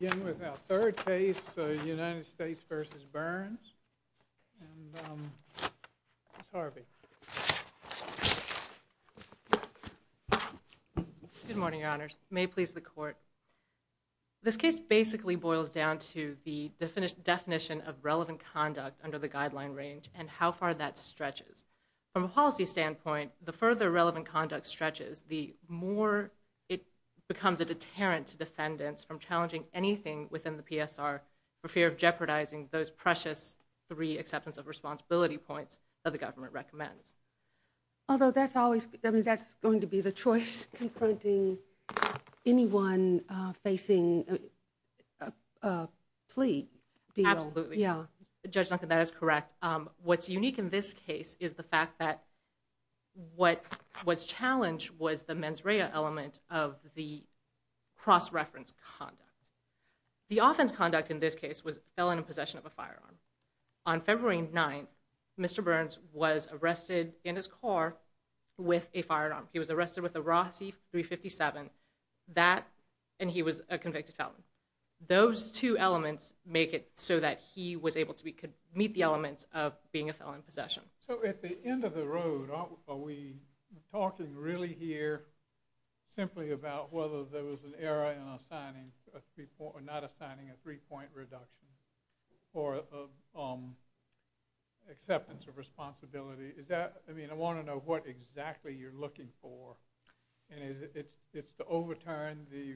In with our third case, United States v. Burns. Ms. Harvey. Good morning, your honors. May it please the court. This case basically boils down to the definition of relevant conduct under the guideline range and how far that stretches. From a policy standpoint, the further relevant conduct stretches, the more it becomes a deterrent to defendants from challenging anything within the PSR for fear of jeopardizing those precious three acceptance of responsibility points that the government recommends. Although that's going to be the choice confronting anyone facing a plea deal. Absolutely. Judge Duncan, that is correct. What's unique in this case is the fact that what was challenged was the mens rea element of the cross-reference conduct. The offense conduct in this case was a felon in possession of a firearm. On February 9th, Mr. Burns was arrested in his car with a firearm. He was arrested with a Rossi .357 and he was a convicted felon. Those two elements make it so that he was able to meet the elements of being a felon in possession. So at the end of the road, are we talking really here simply about whether there was an error in not assigning a three-point reduction for acceptance of responsibility? I want to know what exactly you're looking for. It's the overturn, the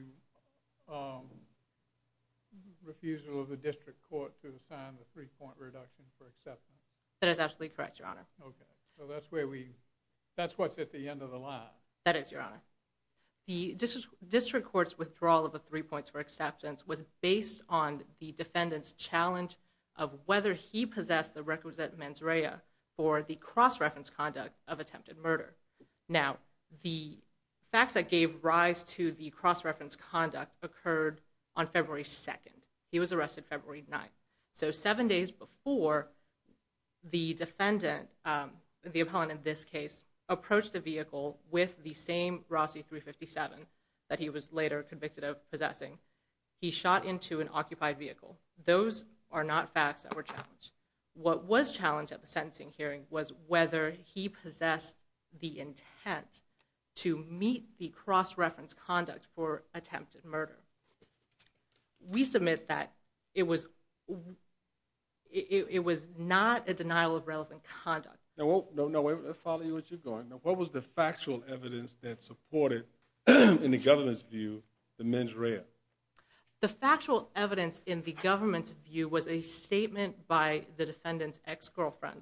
refusal of the district court to assign the three-point reduction for acceptance. That is absolutely correct, Your Honor. So that's what's at the end of the line. That is, Your Honor. The district court's withdrawal of the three points for acceptance was based on the defendant's challenge of whether he possessed the requisite mens rea for the cross-reference conduct of attempted murder. Now, the facts that gave rise to the cross-reference conduct occurred on February 2nd. He was arrested February 9th. So seven days before the defendant, the appellant in this case, approached the vehicle with the same Rossi .357 that he was later convicted of possessing, he shot into an occupied vehicle. Those are not facts that were challenged. What was challenged at the sentencing hearing was whether he possessed the intent to meet the cross-reference conduct for attempted murder. We submit that it was not a denial of relevant conduct. Now, I'll follow you as you're going. What was the factual evidence that supported, in the government's view, the mens rea? The factual evidence in the government's view was a statement by the defendant's ex-girlfriend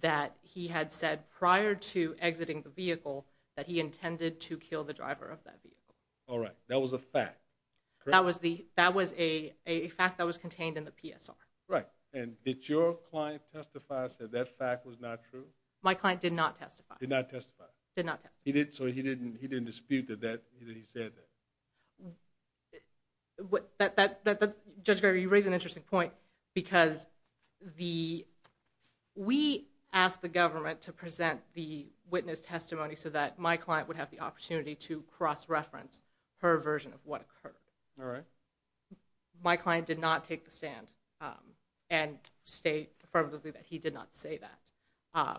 that he had said prior to exiting the vehicle that he intended to kill the driver of that vehicle. All right. That was a fact. That was a fact that was contained in the PSR. Right. And did your client testify that that fact was not true? My client did not testify. Did not testify. Did not testify. So he didn't dispute that he said that? Judge Gregory, you raise an interesting point because we asked the government to present the witness testimony so that my client would have the opportunity to cross-reference her version of what occurred. All right. My client did not take the stand and state affirmatively that he did not say that.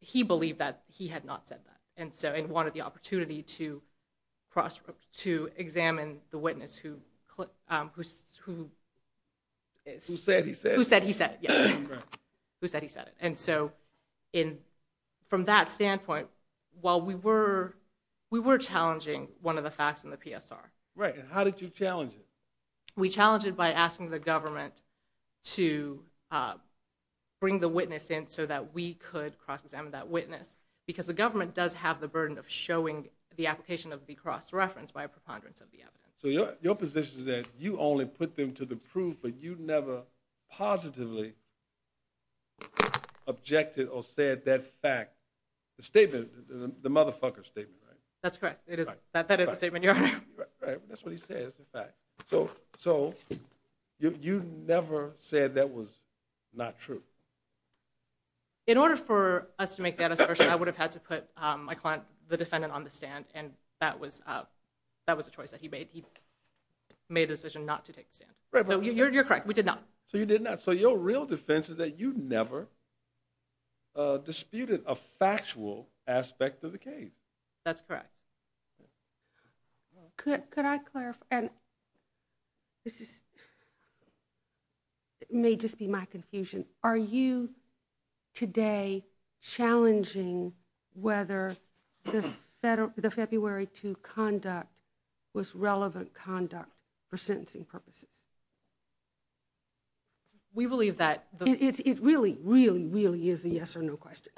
He believed that he had not said that and wanted the opportunity to examine the witness who said he said it. And so from that standpoint, while we were challenging one of the facts in the PSR. Right. And how did you challenge it? We challenged it by asking the government to bring the witness in so that we could cross-examine that witness because the government does have the burden of showing the application of the cross-reference by a preponderance of the evidence. So your position is that you only put them to the proof, but you never positively objected or said that fact. The statement, the motherfucker statement, right? That's correct. That is the statement, Your Honor. Right. That's what he says, the fact. So you never said that was not true? In order for us to make that assertion, I would have had to put my client, the defendant, on the stand. And that was a choice that he made. He made a decision not to take the stand. You're correct. We did not. So you did not. So your real defense is that you never disputed a factual aspect of the case. That's correct. Could I clarify? This may just be my confusion. Are you today challenging whether the February 2 conduct was relevant conduct for sentencing purposes? We believe that. It really, really, really is a yes or no question.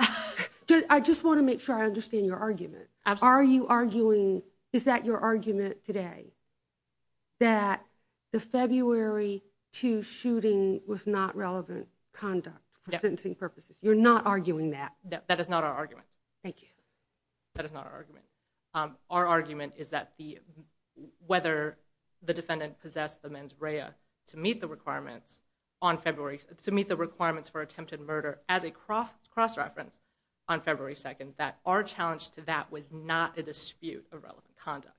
I just want to make sure I understand your argument. Are you arguing, is that your argument today, that the February 2 shooting was not relevant conduct for sentencing purposes? You're not arguing that? That is not our argument. Thank you. That is not our argument. Our argument is that whether the defendant possessed the mens rea to meet the requirements for attempted murder as a cross-reference on February 2nd, that our challenge to that was not a dispute of relevant conduct.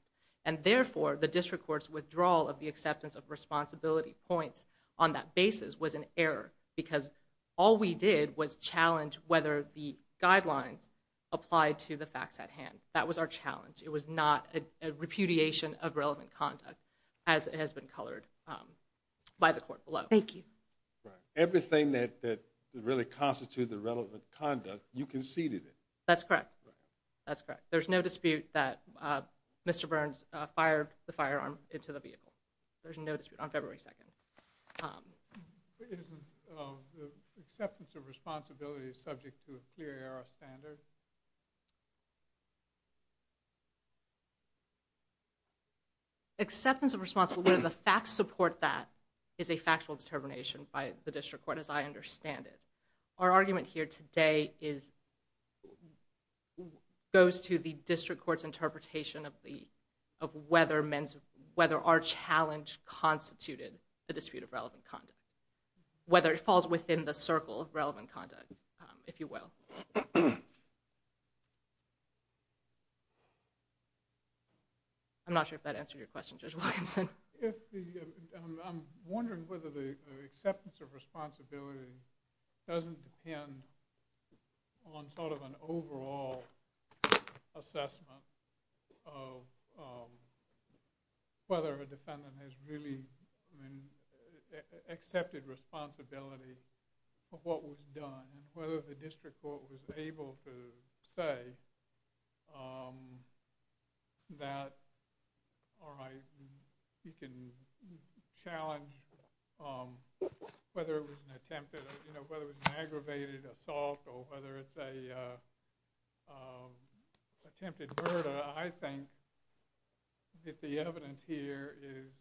And therefore, the district court's withdrawal of the acceptance of responsibility points on that basis was an error, because all we did was challenge whether the guidelines applied to the facts at hand. That was our challenge. It was not a repudiation of relevant conduct, as it has been colored by the court below. Thank you. Everything that really constituted the relevant conduct, you conceded it. That's correct. That's correct. There's no dispute that Mr. Burns fired the firearm into the vehicle. There's no dispute on February 2nd. Isn't the acceptance of responsibility subject to a clear error standard? Acceptance of responsibility, whether the facts support that, is a factual determination by the district court, as I understand it. Our argument here today goes to the district court's interpretation of whether our challenge constituted a dispute of relevant conduct, whether it falls within the circle of relevant conduct, if you will. I'm not sure if that answered your question, Judge Wilkinson. I'm wondering whether the acceptance of responsibility doesn't depend on an overall assessment of whether a defendant has really accepted responsibility for what was done, and whether the district court was able to say that, all right, you can challenge whether it was an attempted, you know, whether it was an aggravated assault or whether it's an attempted murder. I think that the evidence here is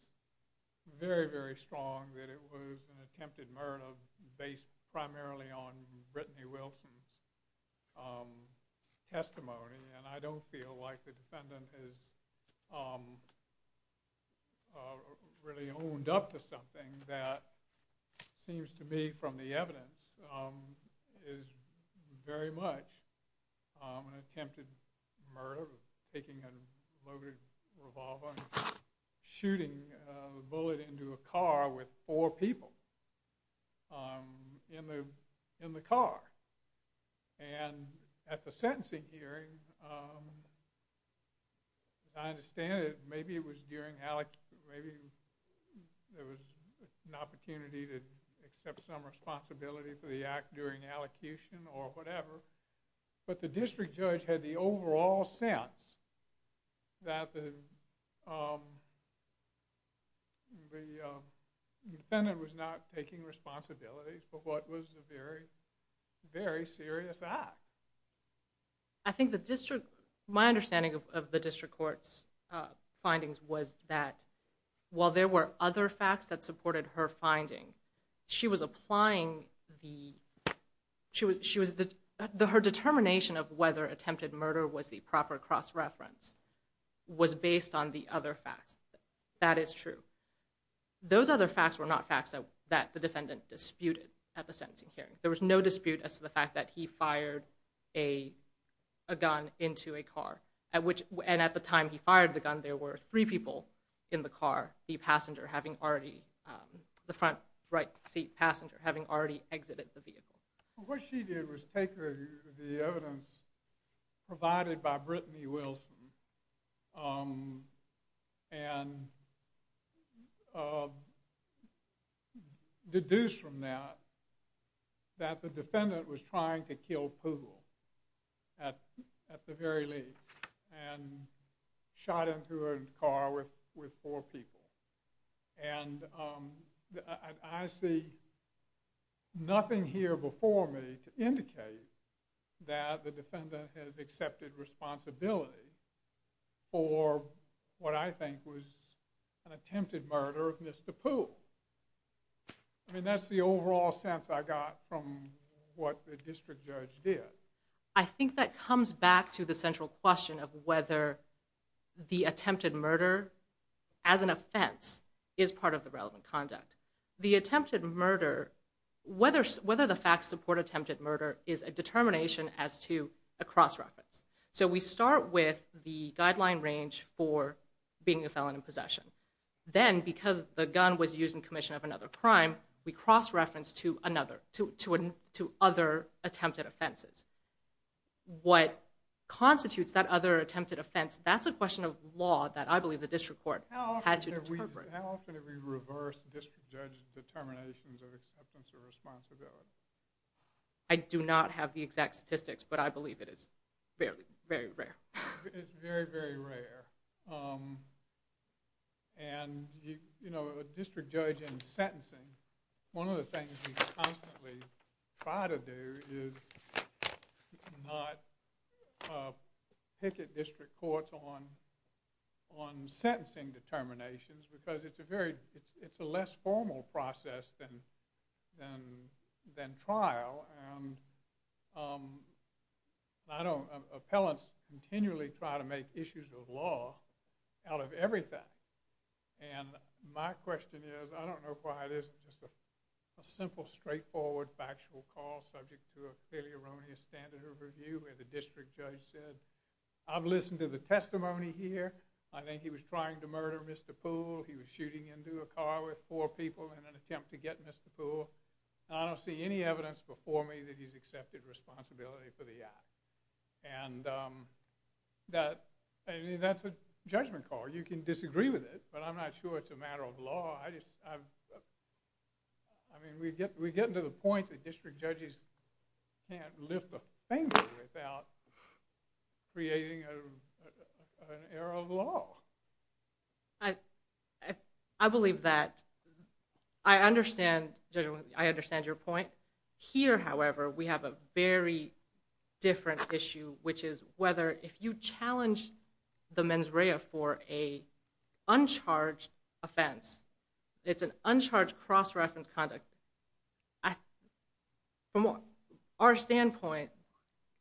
very, very strong that it was an attempted murder based primarily on Brittany Wilson's testimony. And I don't feel like the defendant has really owned up to something that seems to me from the evidence is very much an attempted murder, taking a loaded revolver and shooting a bullet into a car with four people in the car. And at the sentencing hearing, as I understand it, maybe there was an opportunity to accept some responsibility for the act during allocution or whatever, but the district judge had the overall sense that the defendant was not taking responsibility for what was a very, very serious act. I think the district, my understanding of the district court's findings was that while there were other facts that supported her finding, she was applying the, her determination of whether attempted murder was the proper cross-reference was based on the other facts. That is true. Those other facts were not facts that the defendant disputed at the sentencing hearing. There was no dispute as to the fact that he fired a gun into a car, and at the time he fired the gun, there were three people in the car, the front right seat passenger having already exited the vehicle. What she did was take the evidence provided by Brittany Wilson and deduce from that that the defendant was trying to kill Poogle at the very least and shot into a car with four people. And I see nothing here before me to indicate that the defendant has accepted responsibility for what I think was an attempted murder of Mr. Poogle. I mean, that's the overall sense I got from what the district judge did. I think that comes back to the central question of whether the attempted murder as an offense is part of the relevant conduct. The attempted murder, whether the facts support attempted murder is a determination as to a cross-reference. So we start with the guideline range for being a felon in possession. Then, because the gun was used in commission of another crime, we cross-reference to other attempted offenses. What constitutes that other attempted offense, that's a question of law that I believe the district court had to interpret. How often have we reversed district judge determinations of acceptance of responsibility? I do not have the exact statistics, but I believe it is very, very rare. It's very, very rare. And a district judge in sentencing, one of the things we constantly try to do is not picket district courts on sentencing determinations because it's a less formal process than trial. And appellants continually try to make issues of law out of everything. And my question is, I don't know why it isn't just a simple, straightforward factual call subject to a fairly erroneous standard of review where the district judge said, I've listened to the testimony here. I think he was trying to murder Mr. Poole. He was shooting into a car with four people in an attempt to get Mr. Poole. And I don't see any evidence before me that he's accepted responsibility for the act. And that's a judgment call. You can disagree with it, but I'm not sure it's a matter of law. I mean, we get to the point that district judges can't lift a finger without creating an error of law. I believe that. I understand your point. Here, however, we have a very different issue, which is whether if you challenge the mens rea for an uncharged offense, it's an uncharged cross-reference conduct. From our standpoint,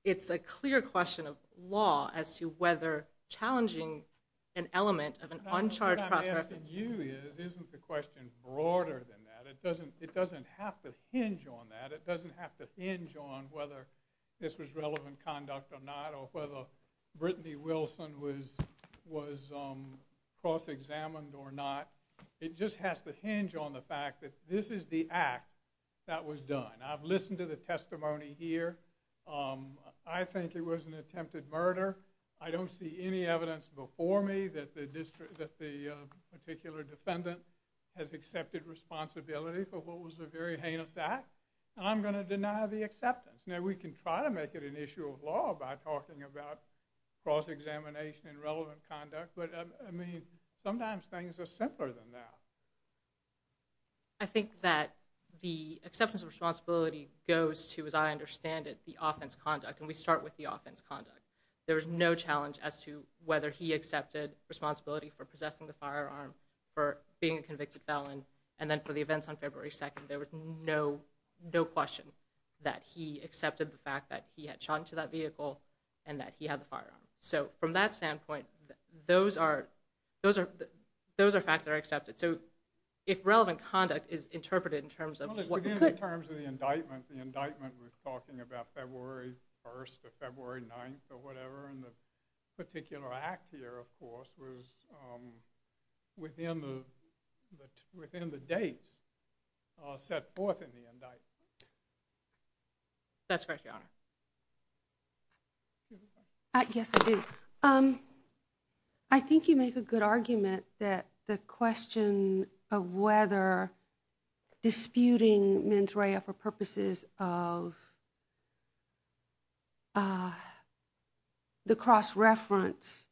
it's a clear question of law as to whether challenging an element of an uncharged cross-reference. What I'm asking you is, isn't the question broader than that? It doesn't have to hinge on that. It doesn't have to hinge on whether this was relevant conduct or not, or whether Brittany Wilson was cross-examined or not. It just has to hinge on the fact that this is the act that was done. I've listened to the testimony here. I think it was an attempted murder. I don't see any evidence before me that the particular defendant has accepted responsibility for what was a very heinous act. And I'm going to deny the acceptance. Now, we can try to make it an issue of law by talking about cross-examination and relevant conduct, but sometimes things are simpler than that. I think that the acceptance of responsibility goes to, as I understand it, the offense conduct. And we start with the offense conduct. There was no challenge as to whether he accepted responsibility for possessing the firearm, for being a convicted felon, and then for the events on February 2nd. There was no question that he accepted the fact that he had shot into that vehicle and that he had the firearm. So from that standpoint, those are facts that are accepted. So if relevant conduct is interpreted in terms of what could— Well, let's begin in terms of the indictment. The indictment was talking about February 1st or February 9th or whatever, and the particular act here, of course, was within the dates set forth in the indictment. That's correct, Your Honor. Yes, I do. I think you make a good argument that the question of whether disputing mens rea for purposes of the cross-reference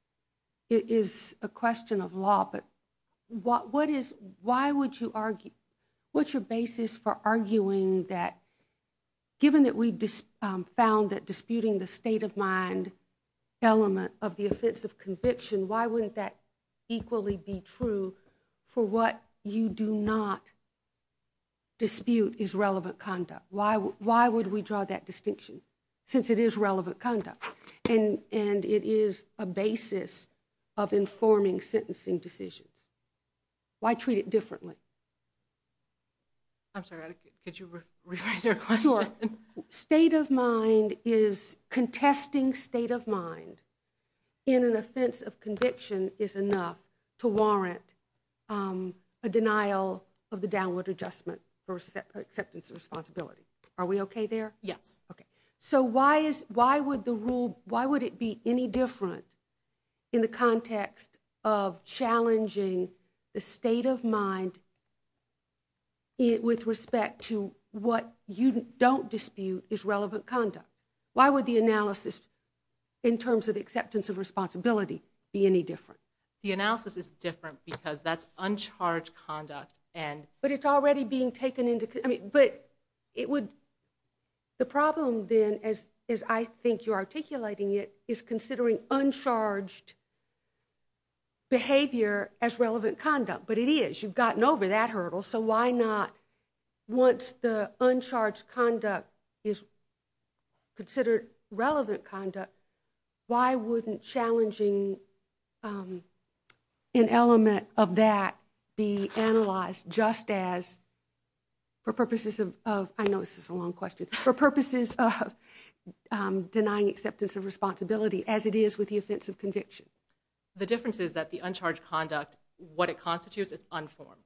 is a question of law. But what is—why would you argue—what's your basis for arguing that, given that we found that disputing the state-of-mind element of the offense of conviction, why wouldn't that equally be true for what you do not dispute is relevant conduct? Why would we draw that distinction, since it is relevant conduct? And it is a basis of informing sentencing decisions. Why treat it differently? I'm sorry. Could you rephrase your question? Sure. State-of-mind is—contesting state-of-mind in an offense of conviction is enough to warrant a denial of the downward adjustment for acceptance of responsibility. Are we okay there? Yes. Okay. So why is—why would the rule—why would it be any different in the context of challenging the state-of-mind with respect to what you don't dispute is relevant conduct? Why would the analysis, in terms of acceptance of responsibility, be any different? The analysis is different because that's uncharged conduct and— but it's already being taken into—I mean, but it would—the problem, then, as I think you're articulating it, is considering uncharged behavior as relevant conduct. But it is. You've gotten over that hurdle. So why not—once the uncharged conduct is considered relevant conduct, why wouldn't challenging an element of that be analyzed just as—for purposes of—I know this is a long question—for purposes of denying acceptance of responsibility as it is with the offense of conviction? The difference is that the uncharged conduct, what it constitutes, it's unformed.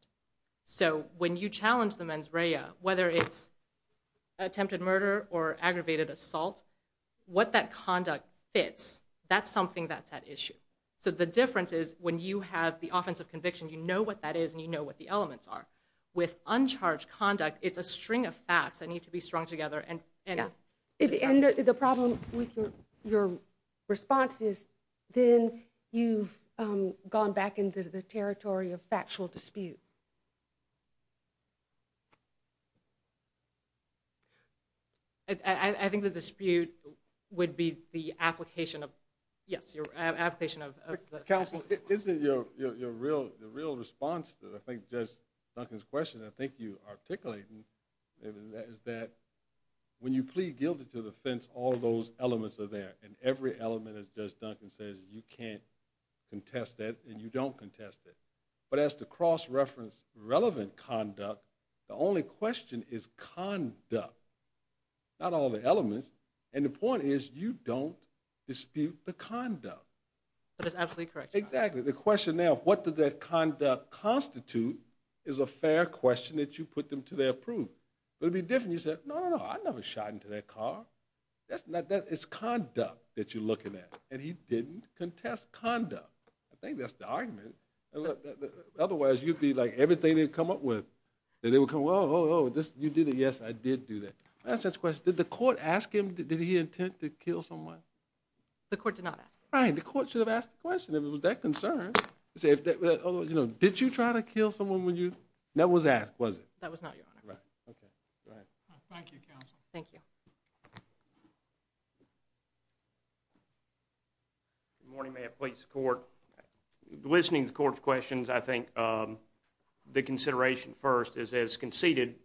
So when you challenge the mens rea, whether it's attempted murder or aggravated assault, what that conduct fits, that's something that's at issue. So the difference is when you have the offense of conviction, you know what that is and you know what the elements are. With uncharged conduct, it's a string of facts that need to be strung together and— And the problem with your response is then you've gone back into the territory of factual dispute. I think the dispute would be the application of—yes, your application of— Well, isn't your real—the real response to, I think, Judge Duncan's question, I think you articulated, is that when you plead guilty to the offense, all those elements are there. And every element, as Judge Duncan says, you can't contest it and you don't contest it. But as to cross-reference relevant conduct, the only question is conduct, not all the elements. And the point is you don't dispute the conduct. But it's absolutely correct, Your Honor. Exactly. The question now, what does that conduct constitute, is a fair question that you put them to their proof. But it'd be different if you said, no, no, no, I never shot into that car. That's not—it's conduct that you're looking at. And he didn't contest conduct. I think that's the argument. Otherwise, you'd be like, everything they'd come up with. And they would come, oh, oh, oh, you did it, yes, I did do that. Did the court ask him, did he intend to kill someone? The court did not ask him. Right. The court should have asked the question. If it was their concern. Did you try to kill someone when you—that was asked, was it? That was not, Your Honor. Right. Okay. Go ahead. Thank you, counsel. Thank you. Good morning, ma'am, police, court. Listening to the court's questions, I think the consideration first is as conceded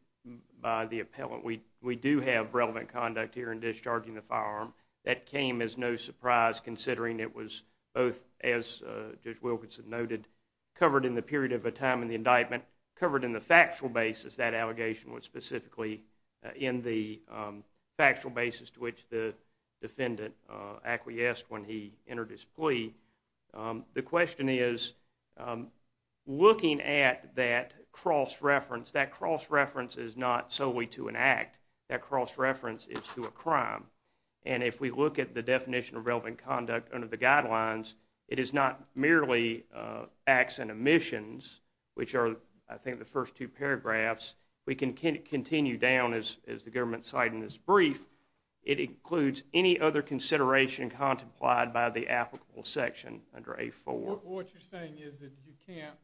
by the appellant, we do have relevant conduct here in discharging the firearm. That came as no surprise, considering it was both, as Judge Wilkinson noted, covered in the period of a time in the indictment, covered in the factual basis. That allegation was specifically in the factual basis to which the defendant acquiesced when he entered his plea. The question is, looking at that cross-reference, that cross-reference is not solely to an act. And if we look at the definition of relevant conduct under the guidelines, it is not merely acts and omissions, which are, I think, the first two paragraphs. We can continue down, as the government cited in this brief, it includes any other consideration contemplated by the applicable section under A-4. What you're saying is that you can't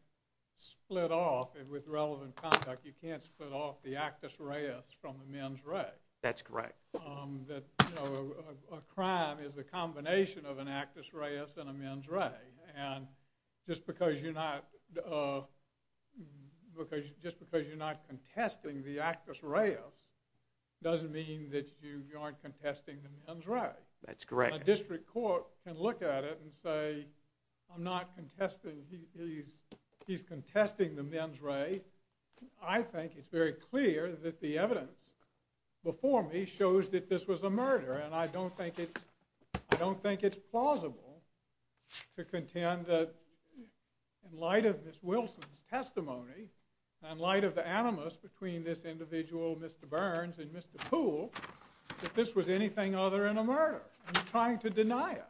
split off, with relevant conduct, you can't split off the actus reus from the mens rea. That's correct. That, you know, a crime is a combination of an actus reus and a mens rea. And just because you're not, just because you're not contesting the actus reus doesn't mean that you aren't contesting the mens rea. That's correct. A district court can look at it and say, I'm not contesting, he's contesting the mens rea. I think it's very clear that the evidence before me shows that this was a murder. And I don't think it's plausible to contend that, in light of Ms. Wilson's testimony, in light of the animus between this individual, Mr. Burns, and Mr. Poole, that this was anything other than a murder. I'm trying to deny it.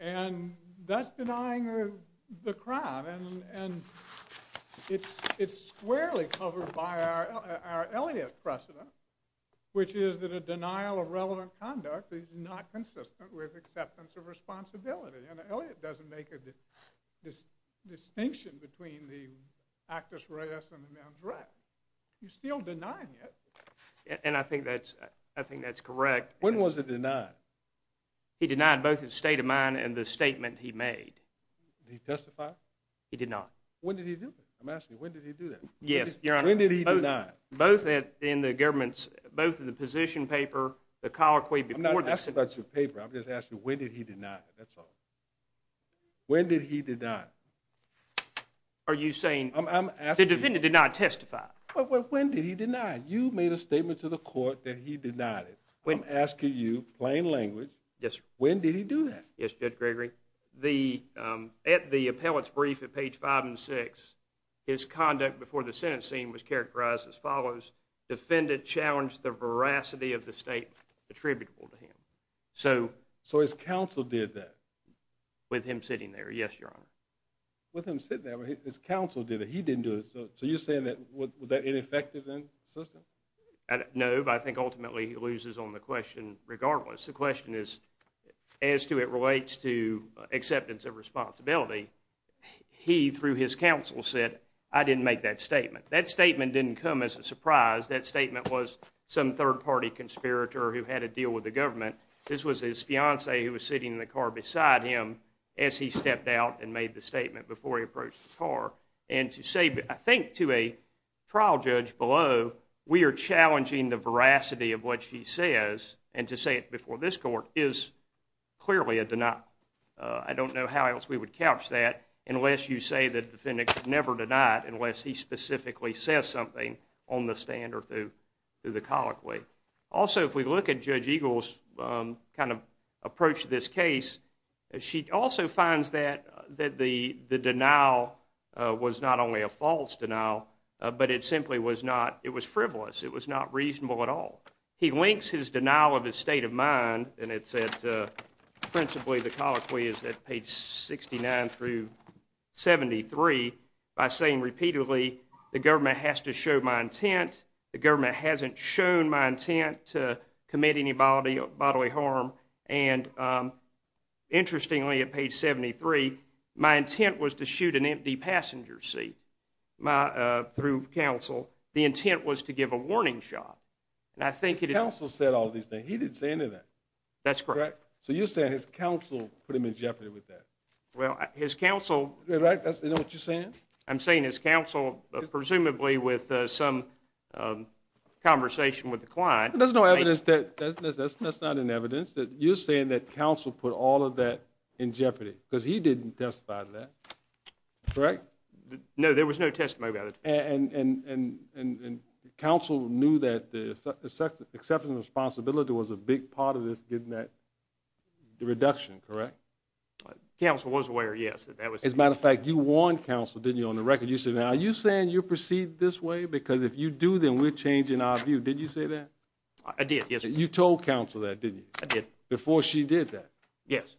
And that's denying the crime. And it's squarely covered by our Elliott precedent, which is that a denial of relevant conduct is not consistent with acceptance of responsibility. And Elliott doesn't make a distinction between the actus reus and the mens rea. He's still denying it. And I think that's correct. When was it denied? He denied both his state of mind and the statement he made. Did he testify? He did not. When did he do that? I'm asking you, when did he do that? Yes, Your Honor. When did he deny? Both in the position paper, the colloquy before the sentence. I'm not asking about the paper. I'm just asking, when did he deny? That's all. When did he deny? Are you saying the defendant did not testify? When did he deny? You made a statement to the court that he denied it. I'm asking you, plain language. Yes, sir. When did he do that? Yes, Judge Gregory. At the appellate's brief at page five and six, his conduct before the sentence scene was characterized as follows. Defendant challenged the veracity of the state attributable to him. So his counsel did that? With him sitting there, yes, Your Honor. With him sitting there, his counsel did it. He didn't do it. So you're saying that, was that ineffective in the system? No, but I think ultimately he loses on the question regardless. The question is, as to it relates to acceptance of responsibility, he, through his counsel, said, I didn't make that statement. That statement didn't come as a surprise. That statement was some third-party conspirator who had a deal with the government. This was his fiancee who was sitting in the car beside him as he stepped out and made the statement before he approached the car. And to say, I think to a trial judge below, we are challenging the veracity of what she says, and to say it before this court, is clearly a denial. I don't know how else we would couch that unless you say the defendant is never denied unless he specifically says something on the stand or through the colloquy. Also, if we look at Judge Eagle's kind of approach to this case, she also finds that the denial was not only a false denial, but it simply was not, it was frivolous. It was not reasonable at all. He links his denial of his state of mind, and it's at principally the colloquy is at page 69 through 73, by saying repeatedly, the government has to show my intent. The government hasn't shown my intent to commit any bodily harm. And interestingly, at page 73, my intent was to shoot an empty passenger seat through counsel. The intent was to give a warning shot. Counsel said all these things. He didn't say any of that. That's correct. So you're saying his counsel put him in jeopardy with that. Well, his counsel. Right? You know what you're saying? I'm saying his counsel, presumably with some conversation with the client. There's no evidence that, that's not in evidence, that you're saying that counsel put all of that in jeopardy, because he didn't testify to that. Correct? No, there was no testimony. And counsel knew that the acceptance of responsibility was a big part of this, getting that reduction, correct? Counsel was aware, yes. As a matter of fact, you warned counsel, didn't you, on the record? You said, now, are you saying you'll proceed this way? Because if you do, then we're changing our view. Did you say that? I did, yes. You told counsel that, didn't you? I did. Before she did that? Yes.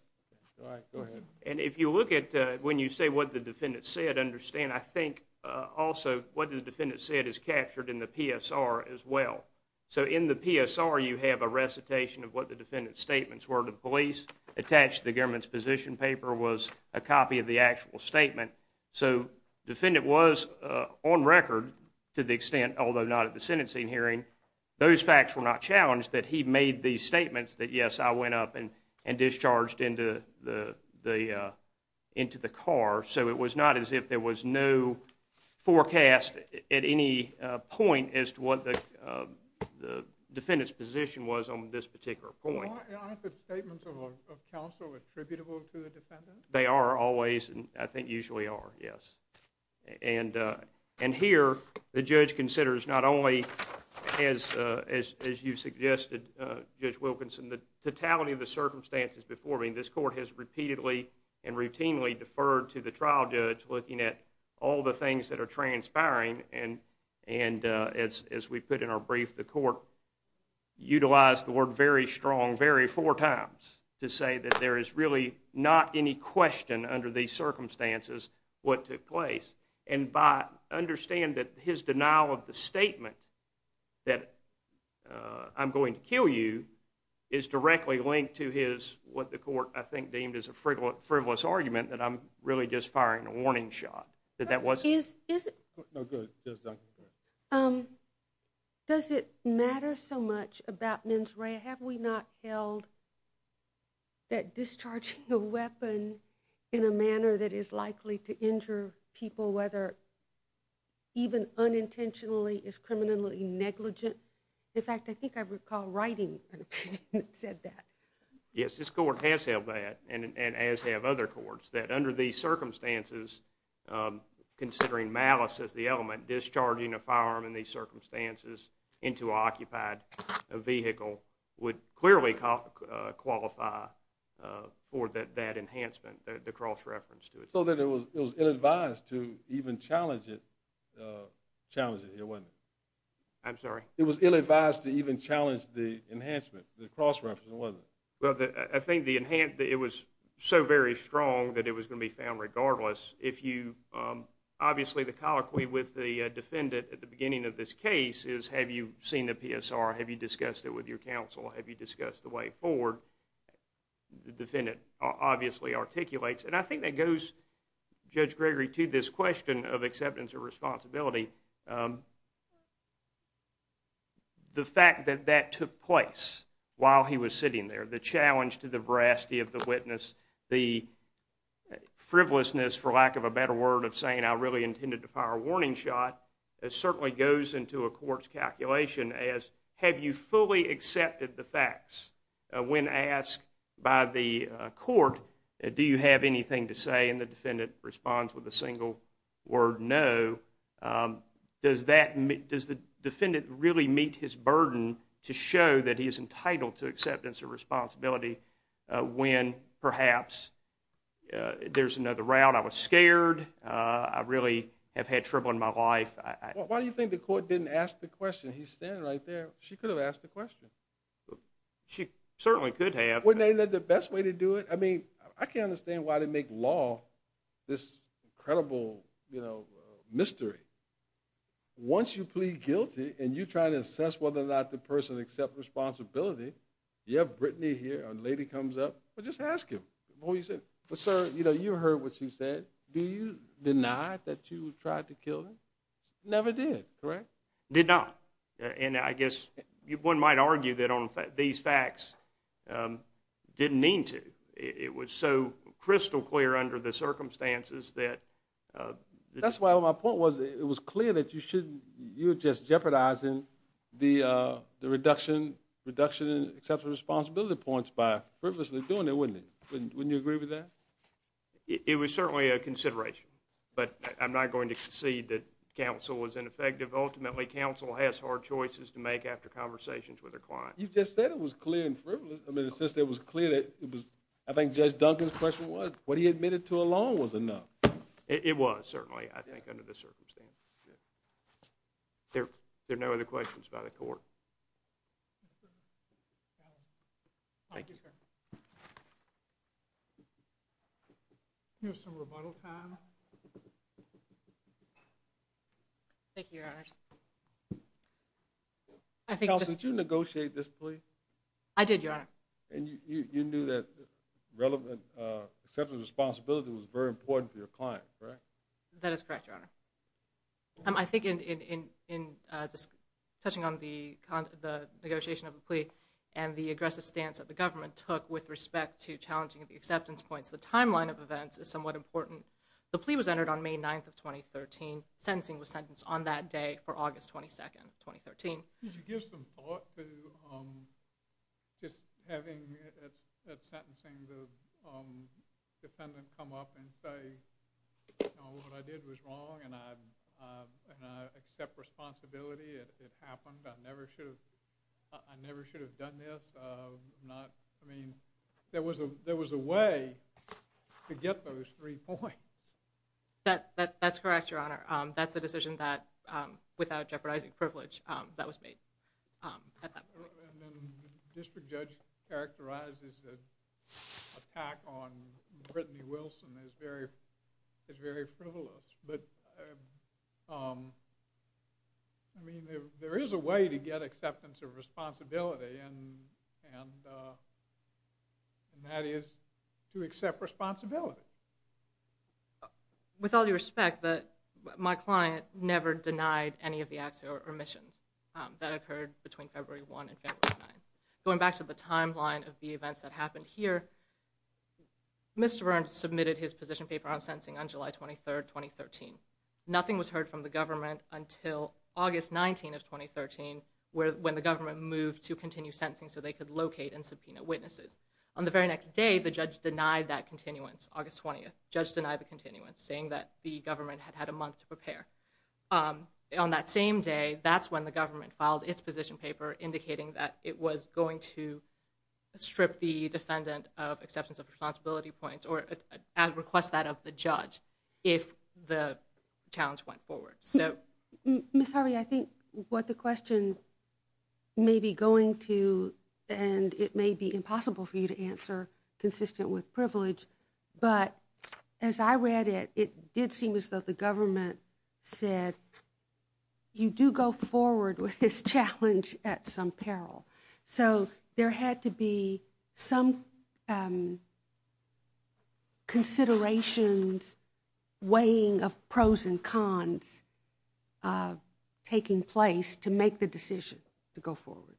All right, go ahead. And if you look at, when you say what the defendant said, understand, I think, also, what the defendant said is captured in the PSR as well. So, in the PSR, you have a recitation of what the defendant's statements were to the police. Attached to the government's position paper was a copy of the actual statement. So, defendant was, on record, to the extent, although not at the sentencing hearing, and discharged into the car. So, it was not as if there was no forecast at any point as to what the defendant's position was on this particular point. Aren't the statements of counsel attributable to the defendant? They are always, and I think usually are, yes. And here, the judge considers not only, as you suggested, Judge Wilkinson, the totality of the circumstances before me. This court has repeatedly and routinely deferred to the trial judge looking at all the things that are transpiring. And, as we put in our brief, the court utilized the word very strong very four times to say that there is really not any question under these circumstances what took place. And by, understand that his denial of the statement that I'm going to kill you is directly linked to his, what the court, I think, deemed as a frivolous argument, that I'm really just firing a warning shot. That that wasn't... Is it... No, go ahead. Does it matter so much about mens rea, have we not held that discharging a firearm in a manner that is likely to injure people, whether even unintentionally is criminally negligent? In fact, I think I recall writing an opinion that said that. Yes, this court has held that, and as have other courts, that under these circumstances, considering malice as the element, discharging a firearm in these circumstances into an occupied vehicle would clearly qualify for that enhancement, the cross-reference to it. So that it was ill-advised to even challenge it here, wasn't it? I'm sorry? It was ill-advised to even challenge the enhancement, the cross-reference, wasn't it? Well, I think it was so very strong that it was going to be found regardless. Obviously, the colloquy with the defendant at the beginning of this case is, have you seen the PSR, have you discussed it with your counsel, have you discussed the way forward? The defendant obviously articulates. And I think that goes, Judge Gregory, to this question of acceptance of responsibility, the fact that that took place while he was sitting there, the challenge to the veracity of the witness, the frivolousness, for lack of a better word, of saying, I really intended to fire a warning shot, certainly goes into a court's calculation as, have you fully accepted the facts? When asked by the court, do you have anything to say? And the defendant responds with a single word, no. Does the defendant really meet his burden to show that he is entitled to acceptance of responsibility when perhaps there's another route? I was scared. I really have had trouble in my life. Why do you think the court didn't ask the question? He's standing right there. She could have asked the question. She certainly could have. Wouldn't that have been the best way to do it? I mean, I can't understand why they make law this incredible mystery. Once you plead guilty and you try to assess whether or not the person accepts responsibility, you have Brittany here, a lady comes up, well, just ask him what he said. Sir, you heard what she said. Do you deny that you tried to kill him? Never did, correct? Did not. And I guess one might argue that these facts didn't mean to. It was so crystal clear under the circumstances that. That's why my point was it was clear that you were just jeopardizing the reduction in acceptance of responsibility points by frivolously doing it, wouldn't it? Wouldn't you agree with that? It was certainly a consideration, but I'm not going to concede that counsel was ineffective. Ultimately, counsel has hard choices to make after conversations with their clients. You just said it was clear and frivolous. I mean, it's just that it was clear that it was. I think Judge Duncan's question was what he admitted to alone was enough. It was certainly, I think, under the circumstances. There are no other questions by the court. Thank you, sir. Here's some rebuttal time. Thank you, Your Honors. Counsel, did you negotiate this plea? I did, Your Honor. And you knew that relevant acceptance of responsibility was very important for your client, correct? That is correct, Your Honor. I think in just touching on the negotiation of the plea and the aggressive stance that the government took with respect to challenging the acceptance points, the timeline of events is somewhat important. The plea was entered on May 9th of 2013. Sentencing was sentenced on that day for August 22nd of 2013. Could you give some thought to just having at sentencing the defendant come up and say, you know, what I did was wrong and I accept responsibility. It happened. I never should have done this. I mean, there was a way to get those three points. That's correct, Your Honor. That's a decision that, without jeopardizing privilege, that was made at that point. The district judge characterizes the attack on Brittany Wilson as very frivolous. But, I mean, there is a way to get acceptance of responsibility and that is to accept responsibility. With all due respect, my client never denied any of the acts or omissions that occurred between February 1 and February 9. Going back to the timeline of the events that happened here, Mr. Burns submitted his position paper on sentencing on July 23rd, 2013. Nothing was heard from the government until August 19th of 2013, when the government moved to continue sentencing so they could locate and subpoena witnesses. On the very next day, the judge denied that continuance, August 20th. The judge denied the continuance, saying that the government had had a month to prepare. On that same day, that's when the government filed its position paper indicating that it was going to strip the defendant of acceptance of responsibility points or request that of the judge if the challenge went forward. Ms. Harvey, I think what the question may be going to and it may be impossible for you to answer consistent with privilege, but as I read it, it did seem as though the government said, you do go forward with this challenge at some peril. So there had to be some considerations weighing of pros and cons taking place to make the decision to go forward.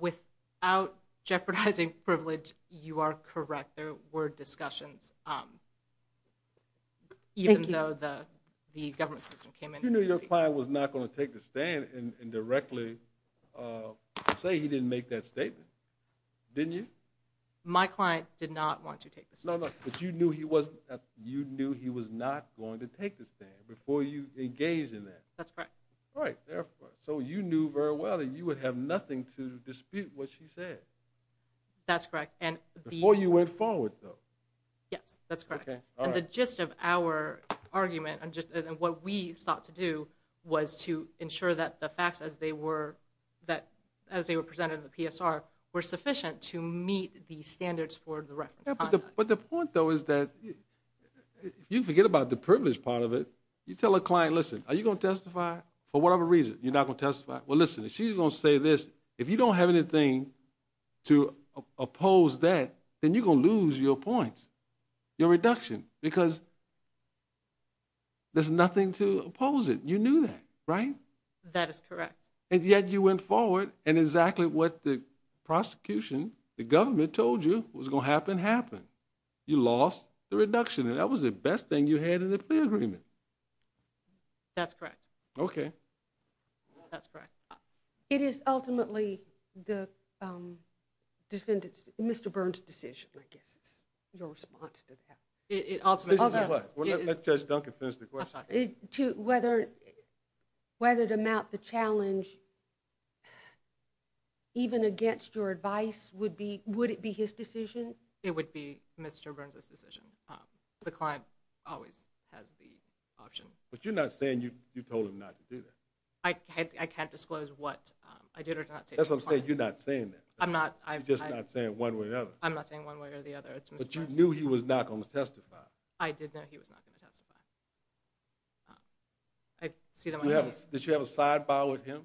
Without jeopardizing privilege, you are correct. There were discussions, even though the government system came in. You knew your client was not going to take the stand and directly say he didn't make that statement, didn't you? My client did not want to take the stand. No, no, but you knew he was not going to take the stand before you engaged in that. That's correct. Right. So you knew very well that you would have nothing to dispute what she said. That's correct. Before you went forward, though. Yes, that's correct. And the gist of our argument and what we sought to do was to ensure that the facts as they were presented in the PSR were sufficient to meet the standards for the reference context. But the point, though, is that if you forget about the privilege part of it, you tell a client, listen, are you going to testify? For whatever reason, you're not going to testify. Well, listen, if she's going to say this, if you don't have anything to oppose that, then you're going to lose your points, your reduction, because there's nothing to oppose it. You knew that, right? That is correct. And yet you went forward, and exactly what the prosecution, the government told you was going to happen, happened. You lost the reduction, and that was the best thing you had in the plea agreement. That's correct. Okay. That's correct. It is ultimately the defendant's, Mr. Burns' decision, I guess, your response to that. Let Judge Duncan finish the question. Whether to mount the challenge even against your advice, would it be his decision? It would be Mr. Burns' decision. The client always has the option. But you're not saying you told him not to do that. I can't disclose what I did or did not say to the client. That's what I'm saying. You're not saying that. I'm not. You're just not saying one way or the other. I'm not saying one way or the other. But you knew he was not going to testify. I did know he was not going to testify. Did you have a sidebar with him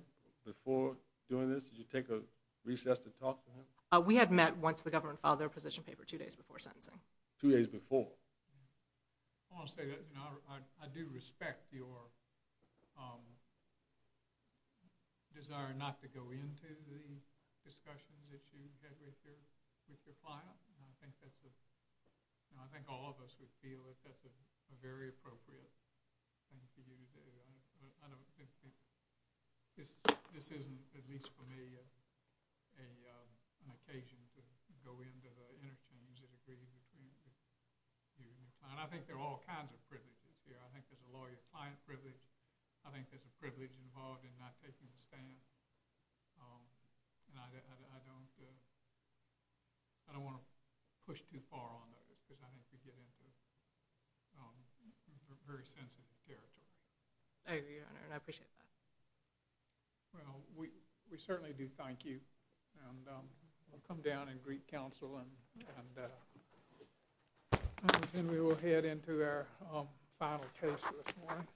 before doing this? Did you take a recess to talk to him? We had met once the government filed their position paper, two days before sentencing. Two days before. I want to say that I do respect your desire not to go into the discussions that you had with your client. I think all of us would feel that that's a very appropriate thing for you to do. This isn't, at least for me, an occasion to go into the interchange that agrees between you and your client. I think there are all kinds of privileges here. I think there's a lawyer-client privilege. I think there's a privilege involved in not taking a stand. And I don't want to push too far on those because I think we get into very sensitive territory. I agree, Your Honor, and I appreciate that. Well, we certainly do thank you. And we'll come down and greet counsel. And then we will head into our final case for this morning. Thank you.